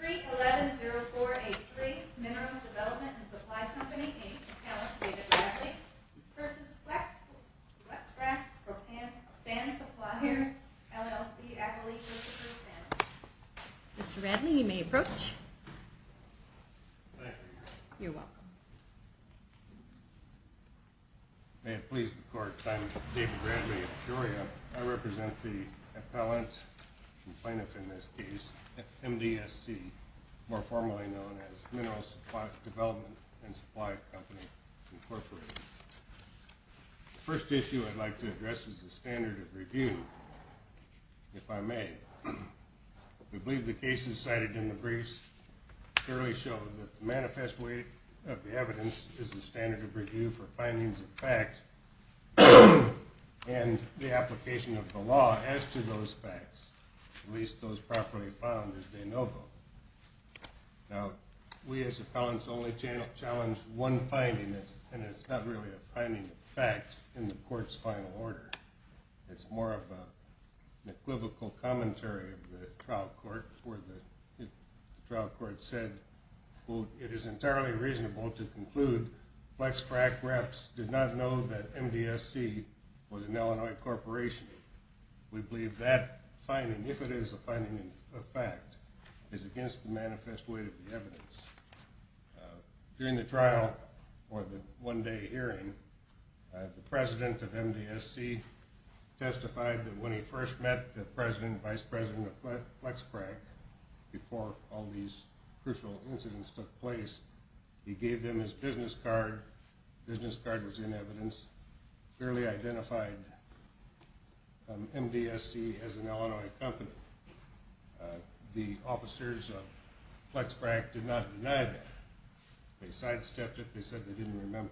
3110483 Minerals Development and Supply Company v. Flexfrac Proppant Sand Suppliers, LLC Mr. Bradley, you may approach. You're welcome. May it please the Court, I'm David Bradley of Peoria. I represent the appellant and plaintiff in this case, MDSC, more formally known as Minerals Development and Supply Company, Incorporated. The first issue I'd like to address is the standard of review, if I may. We believe the cases cited in the briefs clearly show that the manifest way of the evidence is the standard of review for findings of fact and the application of the law as to those facts, at least those properly found as de novo. Now, we as appellants only challenge one finding, and it's not really a finding of fact in the Court's final order. It's more of an equivocal commentary of the trial court where the trial court said, quote, It is entirely reasonable to conclude Flexfrac reps did not know that MDSC was an Illinois corporation. We believe that finding, if it is a finding of fact, is against the manifest way of the evidence. During the trial, or the one-day hearing, the president of MDSC testified that when he first met the president and vice president of Flexfrac, before all these crucial incidents took place, he gave them his business card. The business card was in evidence, clearly identified MDSC as an Illinois company. The officers of Flexfrac did not deny that. They sidestepped it. They said they didn't remember.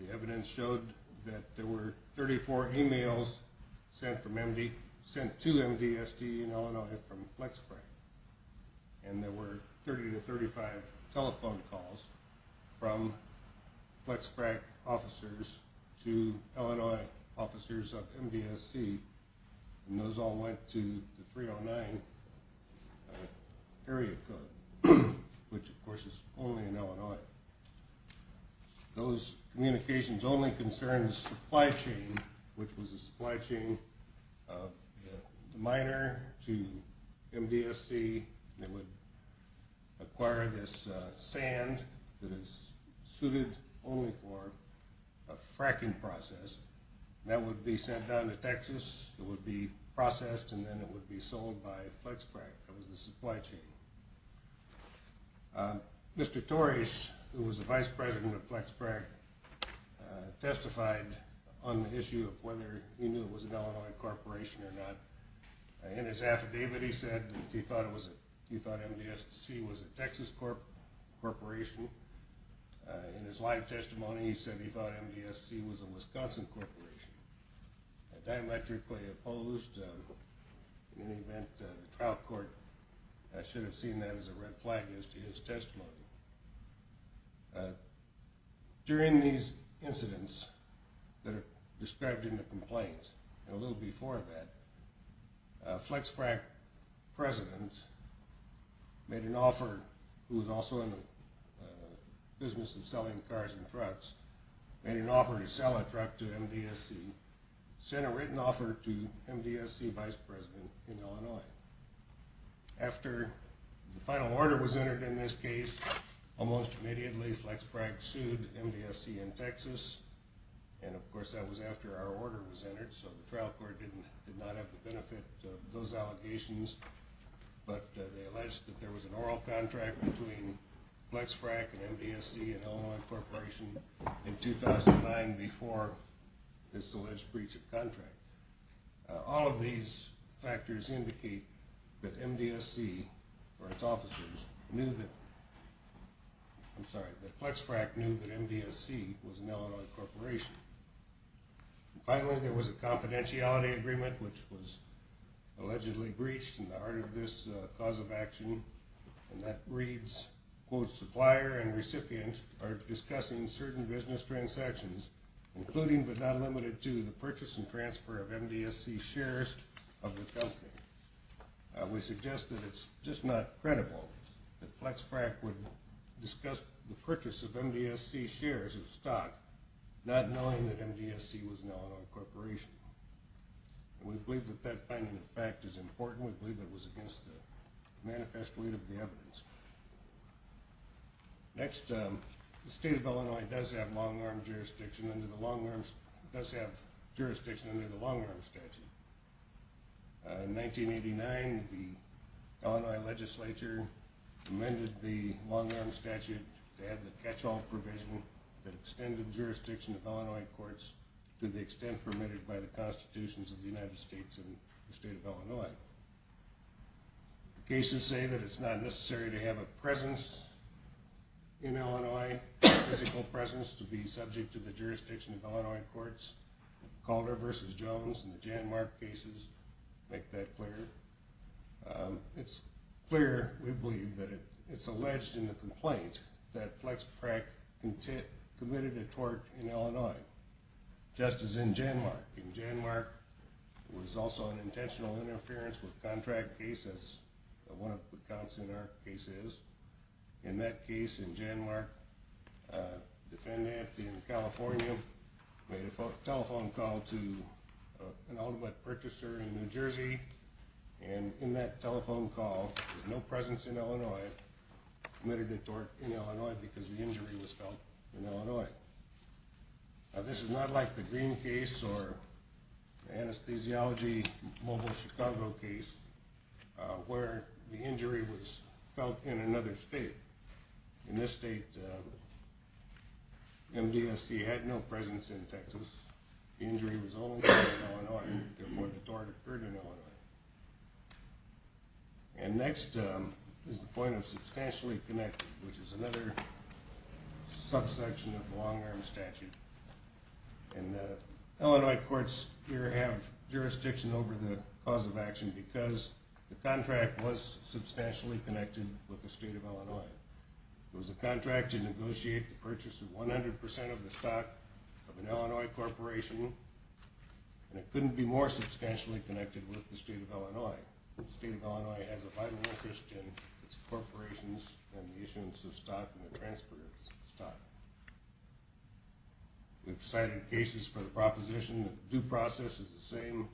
The evidence showed that there were 34 emails sent to MDSC in Illinois from Flexfrac, and there were 30 to 35 telephone calls from Flexfrac officers to Illinois officers of MDSC, and those all went to the 309 area code, which of course is only in Illinois. Those communications only concerned the supply chain, which was the supply chain of the miner to MDSC. They would acquire this sand that is suited only for a fracking process. That would be sent down to Texas. It would be processed, and then it would be sold by Flexfrac. That was the supply chain. Mr. Torres, who was the vice president of Flexfrac, testified on the issue of whether he knew it was an Illinois corporation or not. In his affidavit, he said that he thought MDSC was a Texas corporation. In his live testimony, he said he thought MDSC was a Wisconsin corporation. Diametrically opposed. In any event, the trial court should have seen that as a red flag as to his testimony. During these incidents that are described in the complaints, and a little before that, Flexfrac president made an offer, who was also in the business of selling cars and trucks, made an offer to sell a truck to MDSC, sent a written offer to MDSC vice president in Illinois. After the final order was entered in this case, almost immediately Flexfrac sued MDSC in Texas. Of course, that was after our order was entered, so the trial court did not have the benefit of those allegations. They alleged that there was an oral contract between Flexfrac and MDSC, an Illinois corporation, in 2009, before this alleged breach of contract. All of these factors indicate that MDSC, or its officers, knew that Flexfrac knew that MDSC was an Illinois corporation. Finally, there was a confidentiality agreement, which was allegedly breached in the heart of this cause of action, and that reads, quote, supplier and recipient are discussing certain business transactions, including but not limited to the purchase and transfer of MDSC shares of the company. We suggest that it's just not credible that Flexfrac would discuss the purchase of MDSC shares of stock, not knowing that MDSC was an Illinois corporation. We believe that that finding of fact is important. We believe it was against the manifest weight of the evidence. Next, the state of Illinois does have jurisdiction under the long-arm statute. In 1989, the Illinois legislature amended the long-arm statute to have the catch-all provision that extended jurisdiction of Illinois courts to the extent permitted by the constitutions of the United States and the state of Illinois. Cases say that it's not necessary to have a presence in Illinois, a physical presence, to be subject to the jurisdiction of Illinois courts. Calder v. Jones and the Janmark cases make that clear. It's clear, we believe, that it's alleged in the complaint that Flexfrac committed a tort in Illinois, just as in Janmark. In Janmark, it was also an intentional interference with contract cases, one of the counts in our cases. In that case in Janmark, a defendant in California made a telephone call to an ultimate purchaser in New Jersey, and in that telephone call, with no presence in Illinois, committed a tort in Illinois because the injury was felt in Illinois. Now, this is not like the Green case or the anesthesiology mobile Chicago case, where the injury was felt in another state. In this state, MDSC had no presence in Texas. The injury was only felt in Illinois, where the tort occurred in Illinois. And next is the point of substantially connected, which is another subsection of the long-arm statute. Illinois courts here have jurisdiction over the cause of action because the contract was substantially connected with the state of Illinois. It was a contract to negotiate the purchase of 100% of the stock of an Illinois corporation, and it couldn't be more substantially connected with the state of Illinois. The state of Illinois has a vital interest in its corporations and the issuance of stock and the transfer of stock. We've cited cases for the proposition that the due process is the same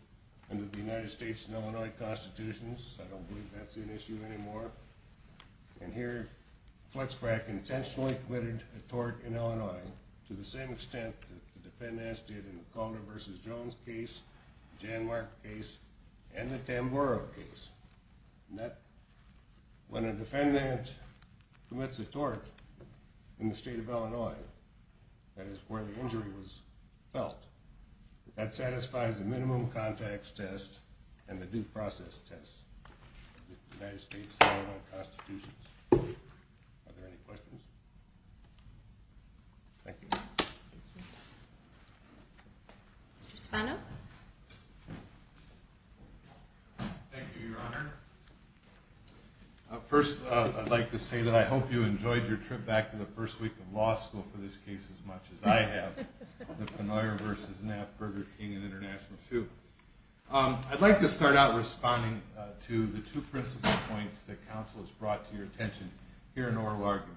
under the United States and Illinois constitutions. I don't believe that's an issue anymore. And here, Fletch Frack intentionally committed a tort in Illinois to the same extent that the defendant did in the Calder v. Jones case, the Jan Mark case, and the Tamburo case. When a defendant commits a tort in the state of Illinois, that is where the injury was felt, and that satisfies the minimum context test and the due process test of the United States and Illinois constitutions. Are there any questions? Thank you. Mr. Spanos? Thank you, Your Honor. First, I'd like to say that I hope you enjoyed your trip back to the first week of law school for this case as much as I have. The Pennoyer v. Knapp, Burger King, and International Shoe. I'd like to start out responding to the two principal points that counsel has brought to your attention here in oral argument.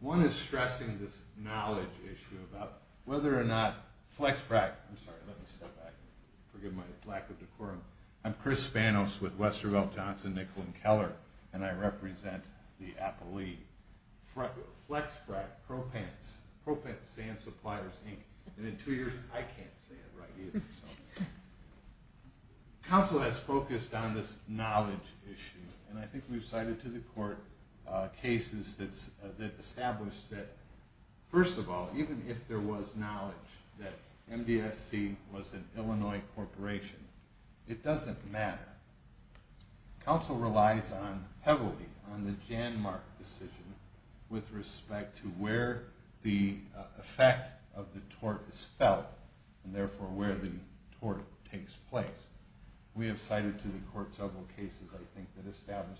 One is stressing this knowledge issue about whether or not Fletch Frack – I'm sorry, let me step back. Forgive my lack of decorum. I'm Chris Spanos with Westerville, Johnson, Nicollin, Keller, and I represent the Appalachian. Fletch Frack, ProPants, ProPants, Sand Suppliers, Inc. And in two years, I can't say it right either. Counsel has focused on this knowledge issue, and I think we've cited to the court cases that establish that, first of all, even if there was knowledge that MDSC was an Illinois corporation, it doesn't matter. Counsel relies heavily on the Janmark decision with respect to where the effect of the tort is felt, and therefore where the tort takes place. We have cited to the court several cases, I think, that establish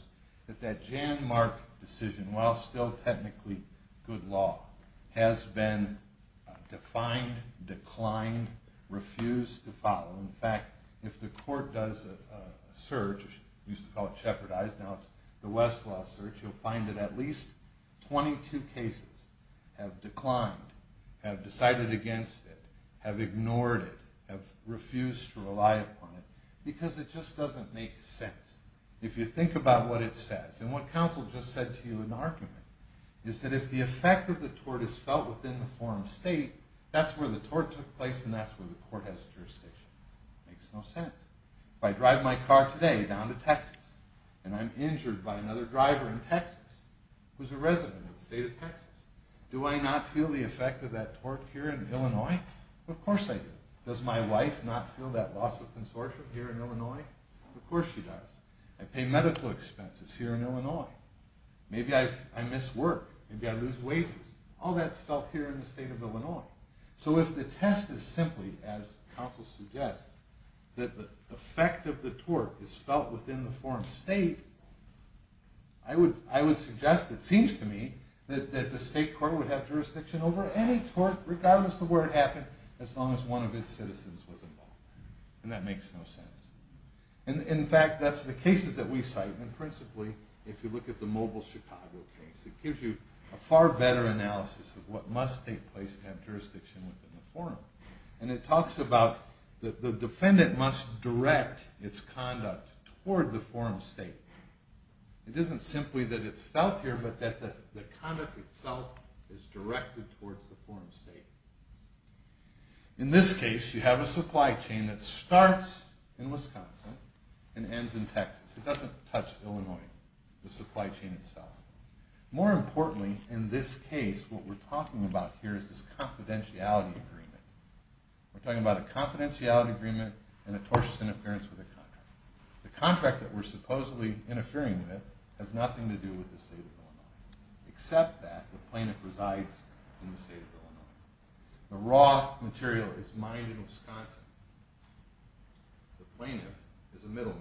that that Janmark decision, while still technically good law, has been defined, declined, refused to follow. In fact, if the court does a search – we used to call it shepherdized, now it's the Westlaw search – you'll find that at least 22 cases have declined, have decided against it, have ignored it, have refused to rely upon it, because it just doesn't make sense if you think about what it says. And what counsel just said to you in argument is that if the effect of the tort is felt within the forum state, that's where the tort took place and that's where the court has jurisdiction. Makes no sense. If I drive my car today down to Texas and I'm injured by another driver in Texas who's a resident of the state of Texas, do I not feel the effect of that tort here in Illinois? Of course I do. Does my wife not feel that loss of consortium here in Illinois? Of course she does. I pay medical expenses here in Illinois. Maybe I miss work. Maybe I lose wages. All that's felt here in the state of Illinois. So if the test is simply, as counsel suggests, that the effect of the tort is felt within the forum state, I would suggest, it seems to me, that the state court would have jurisdiction over any tort, regardless of where it happened, as long as one of its citizens was involved. And that makes no sense. In fact, that's the cases that we cite, and principally if you look at the Mobile Chicago case, it gives you a far better analysis of what must take place to have jurisdiction within the forum. And it talks about the defendant must direct its conduct toward the forum state. It isn't simply that it's felt here, but that the conduct itself is directed towards the forum state. In this case, you have a supply chain that starts in Wisconsin and ends in Texas. It doesn't touch Illinois, the supply chain itself. More importantly, in this case, what we're talking about here is this confidentiality agreement. We're talking about a confidentiality agreement and a tortious interference with a contract. The contract that we're supposedly interfering with has nothing to do with the state of Illinois, except that the plaintiff resides in the state of Illinois. The raw material is mined in Wisconsin. The plaintiff is a middleman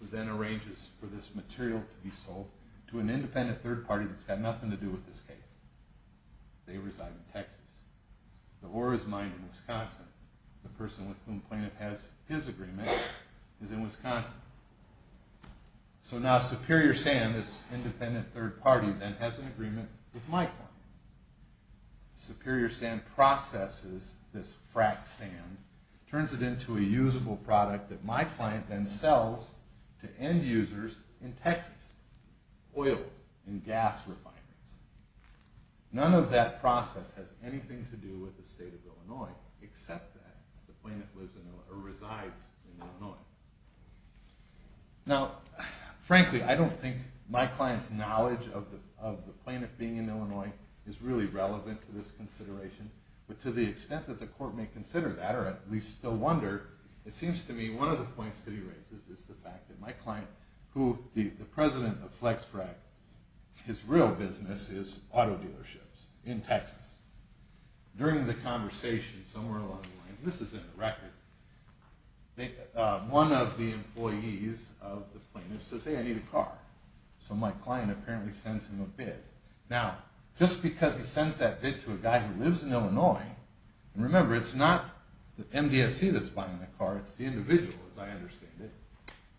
who then arranges for this material to be sold to an independent third party that's got nothing to do with this case. They reside in Texas. The ore is mined in Wisconsin. The person with whom the plaintiff has his agreement is in Wisconsin. So now Superior Sand, this independent third party, then has an agreement with my firm. Superior Sand processes this fracked sand, turns it into a usable product that my client then sells to end users in Texas. Oil and gas refineries. None of that process has anything to do with the state of Illinois, except that the plaintiff resides in Illinois. Now frankly, I don't think my client's knowledge of the plaintiff being in Illinois is really relevant to this consideration, but to the extent that the court may consider that, or at least still wonder, it seems to me one of the points that he raises is the fact that my client, who the president of FlexFrac, his real business is auto dealerships in Texas. During the conversation, somewhere along the lines, this is in the record, one of the employees of the plaintiff says, hey, I need a car. So my client apparently sends him a bid. Now, just because he sends that bid to a guy who lives in Illinois, and remember, it's not the MDSC that's buying the car, it's the individual, as I understand it,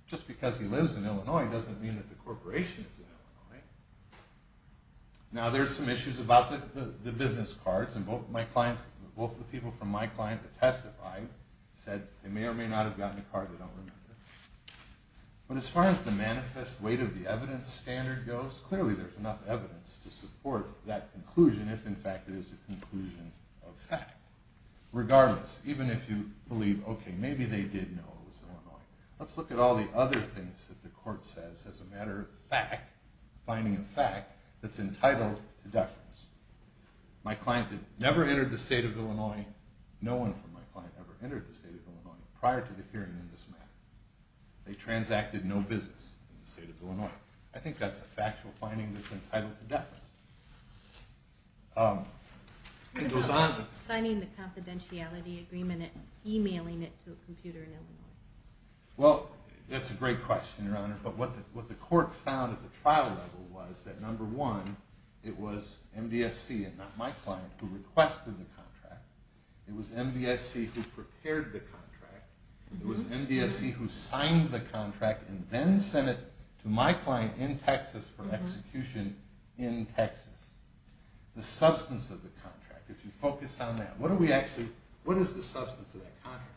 just because he lives in Illinois doesn't mean that the corporation is in Illinois. Now, there's some issues about the business cards, and both the people from my client that testified said they may or may not have gotten a card, they don't remember. But as far as the manifest weight of the evidence standard goes, clearly there's enough evidence to support that conclusion, if in fact it is a conclusion of fact. Regardless, even if you believe, okay, maybe they did know it was Illinois, let's look at all the other things that the court says as a matter of fact, finding a fact that's entitled to deference. My client had never entered the state of Illinois, no one from my client ever entered the state of Illinois prior to the hearing in this matter. They transacted no business in the state of Illinois. I think that's a factual finding that's entitled to deference. It goes on. Signing the confidentiality agreement and emailing it to a computer in Illinois. Well, that's a great question, Your Honor, but what the court found at the trial level was that number one, it was MDSC and not my client who requested the contract, it was MDSC who prepared the contract, it was MDSC who signed the contract and then sent it to my client in Texas for execution in Texas. The substance of the contract, if you focus on that, what is the substance of that contract?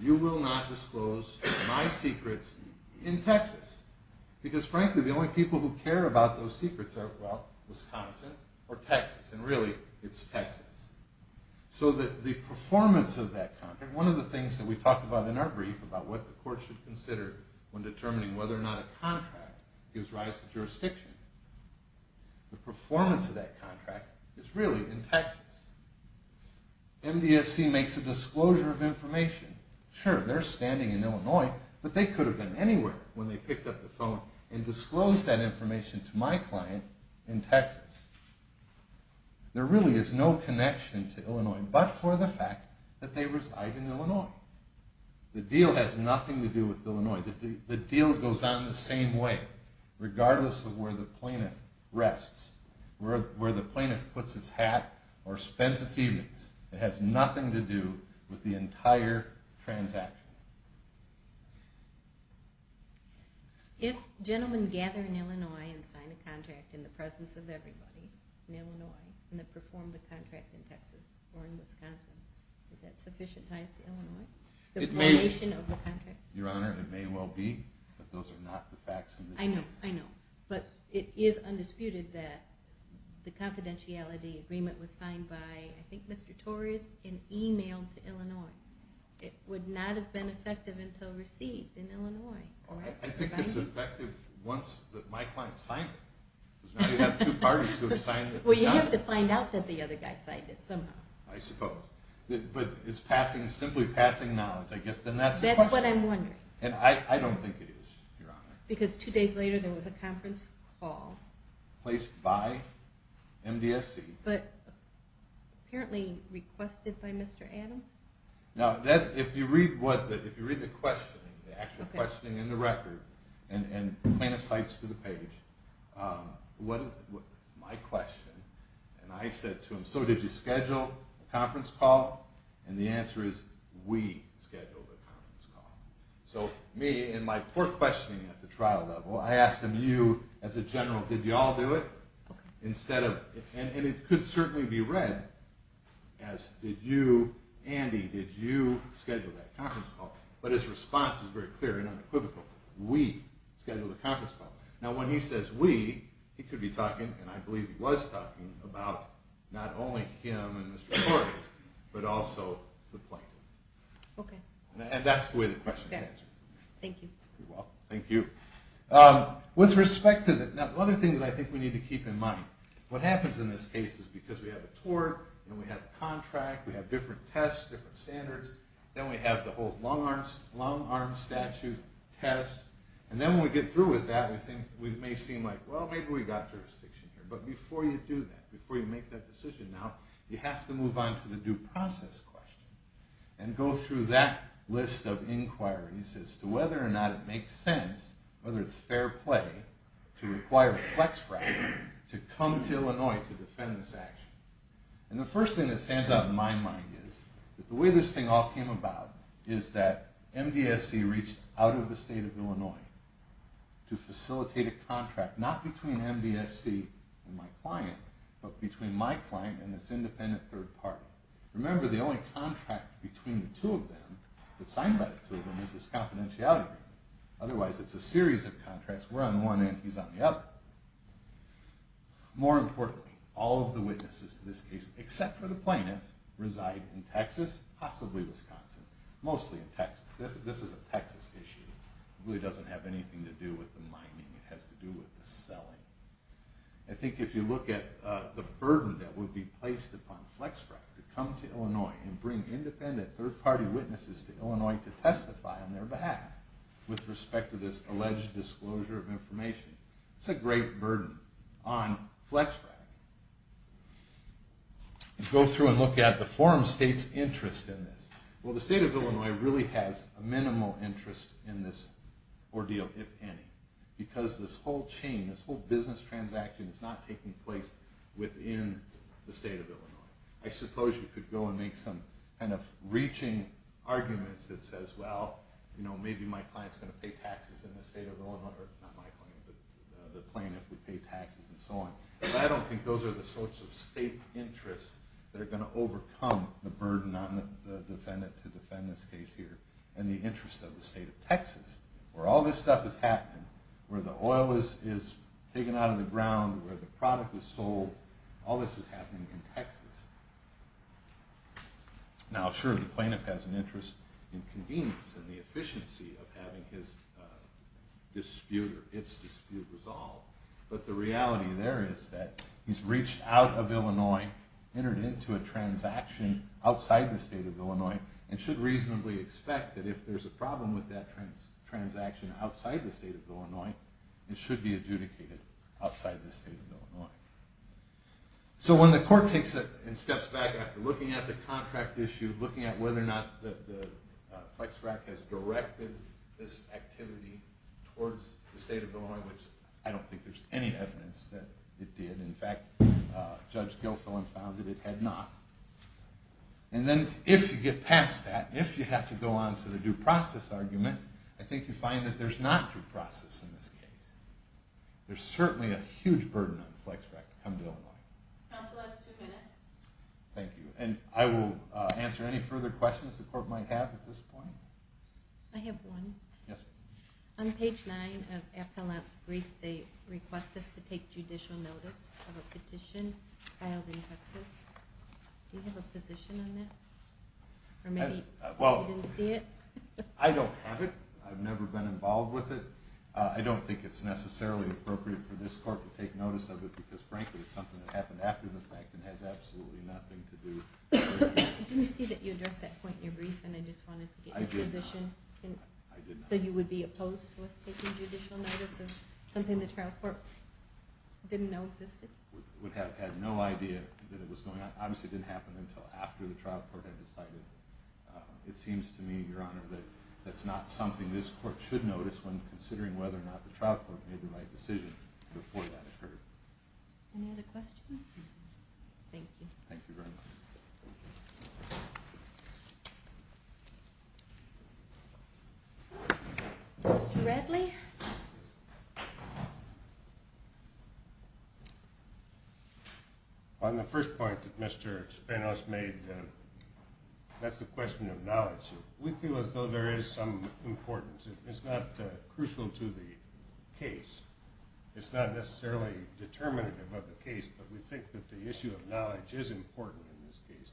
You will not disclose my secrets in Texas because frankly the only people who care about those secrets are, well, Wisconsin or Texas, and really it's Texas. So the performance of that contract, one of the things that we talk about in our brief about what the court should consider when determining whether or not a contract gives rise to jurisdiction, the performance of that contract is really in Texas. MDSC makes a disclosure of information. Sure, they're standing in Illinois, but they could have been anywhere when they picked up the phone and disclosed that information to my client in Texas. There really is no connection to Illinois but for the fact that they reside in Illinois. The deal has nothing to do with Illinois. The deal goes on the same way regardless of where the plaintiff rests, where the plaintiff puts its hat or spends its evenings. It has nothing to do with the entire transaction. If gentlemen gather in Illinois and sign a contract in the presence of everybody in Illinois and then perform the contract in Texas or in Wisconsin, is that sufficient ties to Illinois, the formation of the contract? Your Honor, it may well be, but those are not the facts in this case. I know, I know. But it is undisputed that the confidentiality agreement was signed by, I think Mr. Torres, and emailed to Illinois. It would not have been effective until received in Illinois. I think it's effective once my client signs it. Because now you have two parties who have signed it. Well, you have to find out that the other guy signed it somehow. I suppose. But it's simply passing knowledge. That's what I'm wondering. And I don't think it is, Your Honor. Because two days later there was a conference call. Placed by MDSC. But apparently requested by Mr. Adams. Now, if you read the questioning, the actual questioning in the record, and plaintiff cites to the page, my question, and I said to him, So did you schedule a conference call? And the answer is, we scheduled a conference call. So me and my poor questioning at the trial level, I asked him, you as a general, did you all do it? And it could certainly be read as, did you, Andy, did you schedule that conference call? But his response is very clear and unequivocal. We scheduled a conference call. Now when he says we, he could be talking, and I believe he was talking about not only him and Mr. Torres, but also the plaintiff. Okay. And that's the way the question is answered. Thank you. You're welcome. Thank you. With respect to the other thing that I think we need to keep in mind, what happens in this case is because we have a tort, and we have a contract, we have different tests, different standards, then we have the whole long-arm statute test, and then when we get through with that, I think we may seem like, well, maybe we've got jurisdiction here. But before you do that, before you make that decision now, you have to move on to the due process question and go through that list of inquiries as to whether or not it makes sense, whether it's fair play to require a flex fractor to come to Illinois to defend this action. And the first thing that stands out in my mind is that the way this thing to facilitate a contract not between MBSC and my client, but between my client and this independent third party. Remember, the only contract between the two of them, that's signed by the two of them, is this confidentiality agreement. Otherwise, it's a series of contracts. We're on one end, he's on the other. More importantly, all of the witnesses to this case, except for the plaintiff, reside in Texas, possibly Wisconsin. Mostly in Texas. This is a Texas issue. It really doesn't have anything to do with the mining. It has to do with the selling. I think if you look at the burden that would be placed upon flex frac to come to Illinois and bring independent third party witnesses to Illinois to testify on their behalf with respect to this alleged disclosure of information, it's a great burden on flex frac. Go through and look at the forum state's interest in this. Well, the state of Illinois really has a minimal interest in this ordeal, if any. Because this whole chain, this whole business transaction, is not taking place within the state of Illinois. I suppose you could go and make some kind of reaching arguments that says, well, maybe my client's going to pay taxes in the state of Illinois, or not my client, but the plaintiff would pay taxes and so on. But I don't think those are the sorts of state interests that are going to overcome the burden on the defendant to defend this case here and the interest of the state of Texas. Where all this stuff is happening, where the oil is taken out of the ground, where the product is sold, all this is happening in Texas. Now, sure, the plaintiff has an interest in convenience and the efficiency of having his dispute or its dispute resolved. But the reality there is that he's reached out of Illinois, entered into a transaction outside the state of Illinois, and should reasonably expect that if there's a problem with that transaction outside the state of Illinois, it should be adjudicated outside the state of Illinois. So when the court takes a step back after looking at the contract issue, looking at whether or not the flex frac has directed this activity towards the state of Illinois, which I don't think there's any evidence that it did. In fact, Judge Gilfillan found that it had not. And then if you get past that, if you have to go on to the due process argument, I think you find that there's not due process in this case. There's certainly a huge burden on the flex frac to come to Illinois. Thank you. And I will answer any further questions the court might have at this point. I have one. On page 9 of Appellant's brief, they request us to take judicial notice of a petition filed in Texas. Do you have a position on that? Or maybe you didn't see it? I don't have it. I've never been involved with it. I don't think it's necessarily appropriate for this court to take notice of it because frankly it's something that happened after the fact and has absolutely nothing to do with it. I didn't see that you addressed that point in your brief and I just wanted to get your position. I did not. So you would be opposed to us taking judicial notice of something the trial court didn't know existed? I would have had no idea that it was going on. Obviously it didn't happen until after the trial court had decided. It seems to me, Your Honor, that that's not something this court should notice when considering whether or not the trial court made the right decision before that occurred. Any other questions? Thank you. Thank you very much. Mr. Radley? On the first point that Mr. Spanos made, that's the question of knowledge. We feel as though there is some importance. It's not crucial to the case. It's not necessarily determinative of the case, but we think that the issue of knowledge is important in this case.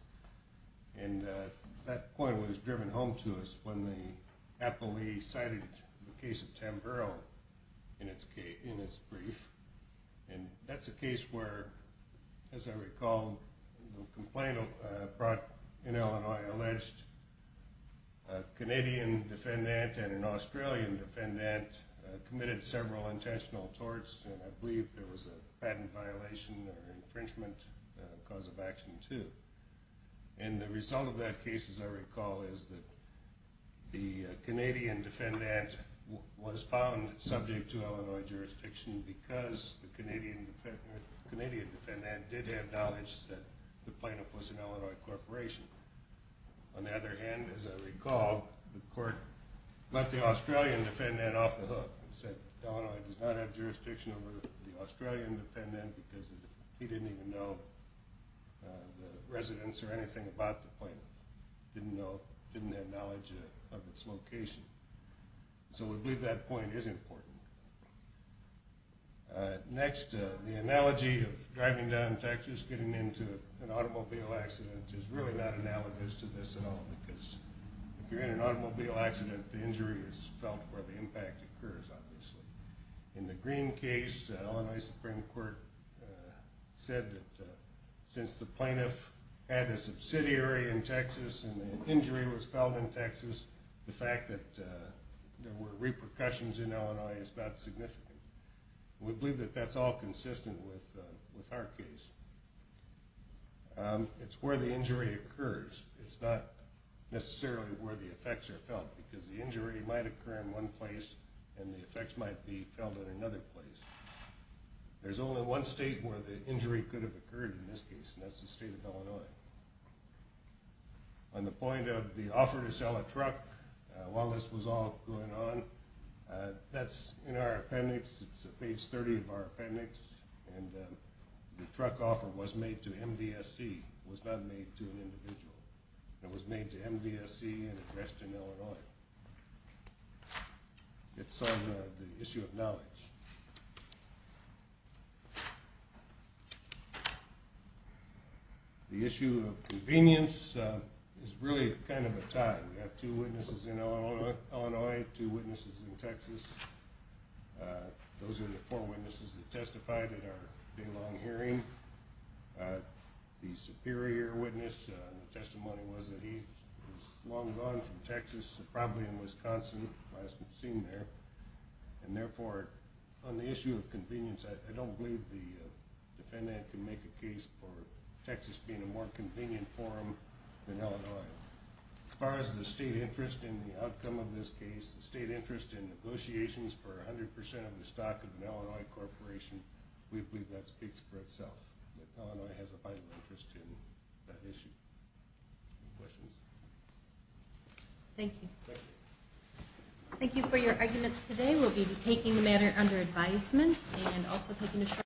And that point was driven home to us when the appellee cited the case of Tamburo in his brief. And that's a case where, as I recall, the complaint brought in Illinois alleged a Canadian defendant and an Australian defendant committed several intentional torts, and I believe there was a patent violation or infringement cause of action, too. And the result of that case, as I recall, is that the Canadian defendant was found subject to Illinois jurisdiction because the Canadian defendant did have knowledge that the plaintiff was an Illinois corporation. On the other hand, as I recall, the court let the Australian defendant off the hook and said Illinois does not have jurisdiction over the Australian defendant because he didn't even know the residents or anything about the plaintiff, didn't have knowledge of its location. So we believe that point is important. Next, the analogy of driving down in Texas, getting into an automobile accident, is really not analogous to this at all because if you're in an automobile accident, the injury is felt where the impact occurs, obviously. In the Green case, Illinois Supreme Court said that since the plaintiff had a subsidiary in Texas and the injury was felt in Texas, the fact that there were repercussions in Illinois is not significant. We believe that that's all consistent with our case. It's where the injury occurs. It's not necessarily where the effects are felt because the injury might occur in one place and the effects might be felt in another place. There's only one state where the injury could have occurred in this case, and that's the state of Illinois. On the point of the offer to sell a truck while this was all going on, that's in our appendix. It's page 30 of our appendix, and the truck offer was made to MDSC. It was not made to an individual. It's on the issue of knowledge. The issue of convenience is really kind of a tie. We have two witnesses in Illinois, two witnesses in Texas. Those are the four witnesses that testified at our day-long hearing. The superior witness, the testimony was that he was long gone from Texas, probably in Wisconsin, last we've seen there. And therefore, on the issue of convenience, I don't believe the defendant can make a case for Texas being a more convenient forum than Illinois. As far as the state interest in the outcome of this case, the state interest in negotiations for 100% of the stock of an Illinois corporation, we believe that speaks for itself, that Illinois has a vital interest in that issue. Any questions? Thank you. Thank you. Thank you for your arguments today. We'll be taking the matter under advisement and also taking a short break.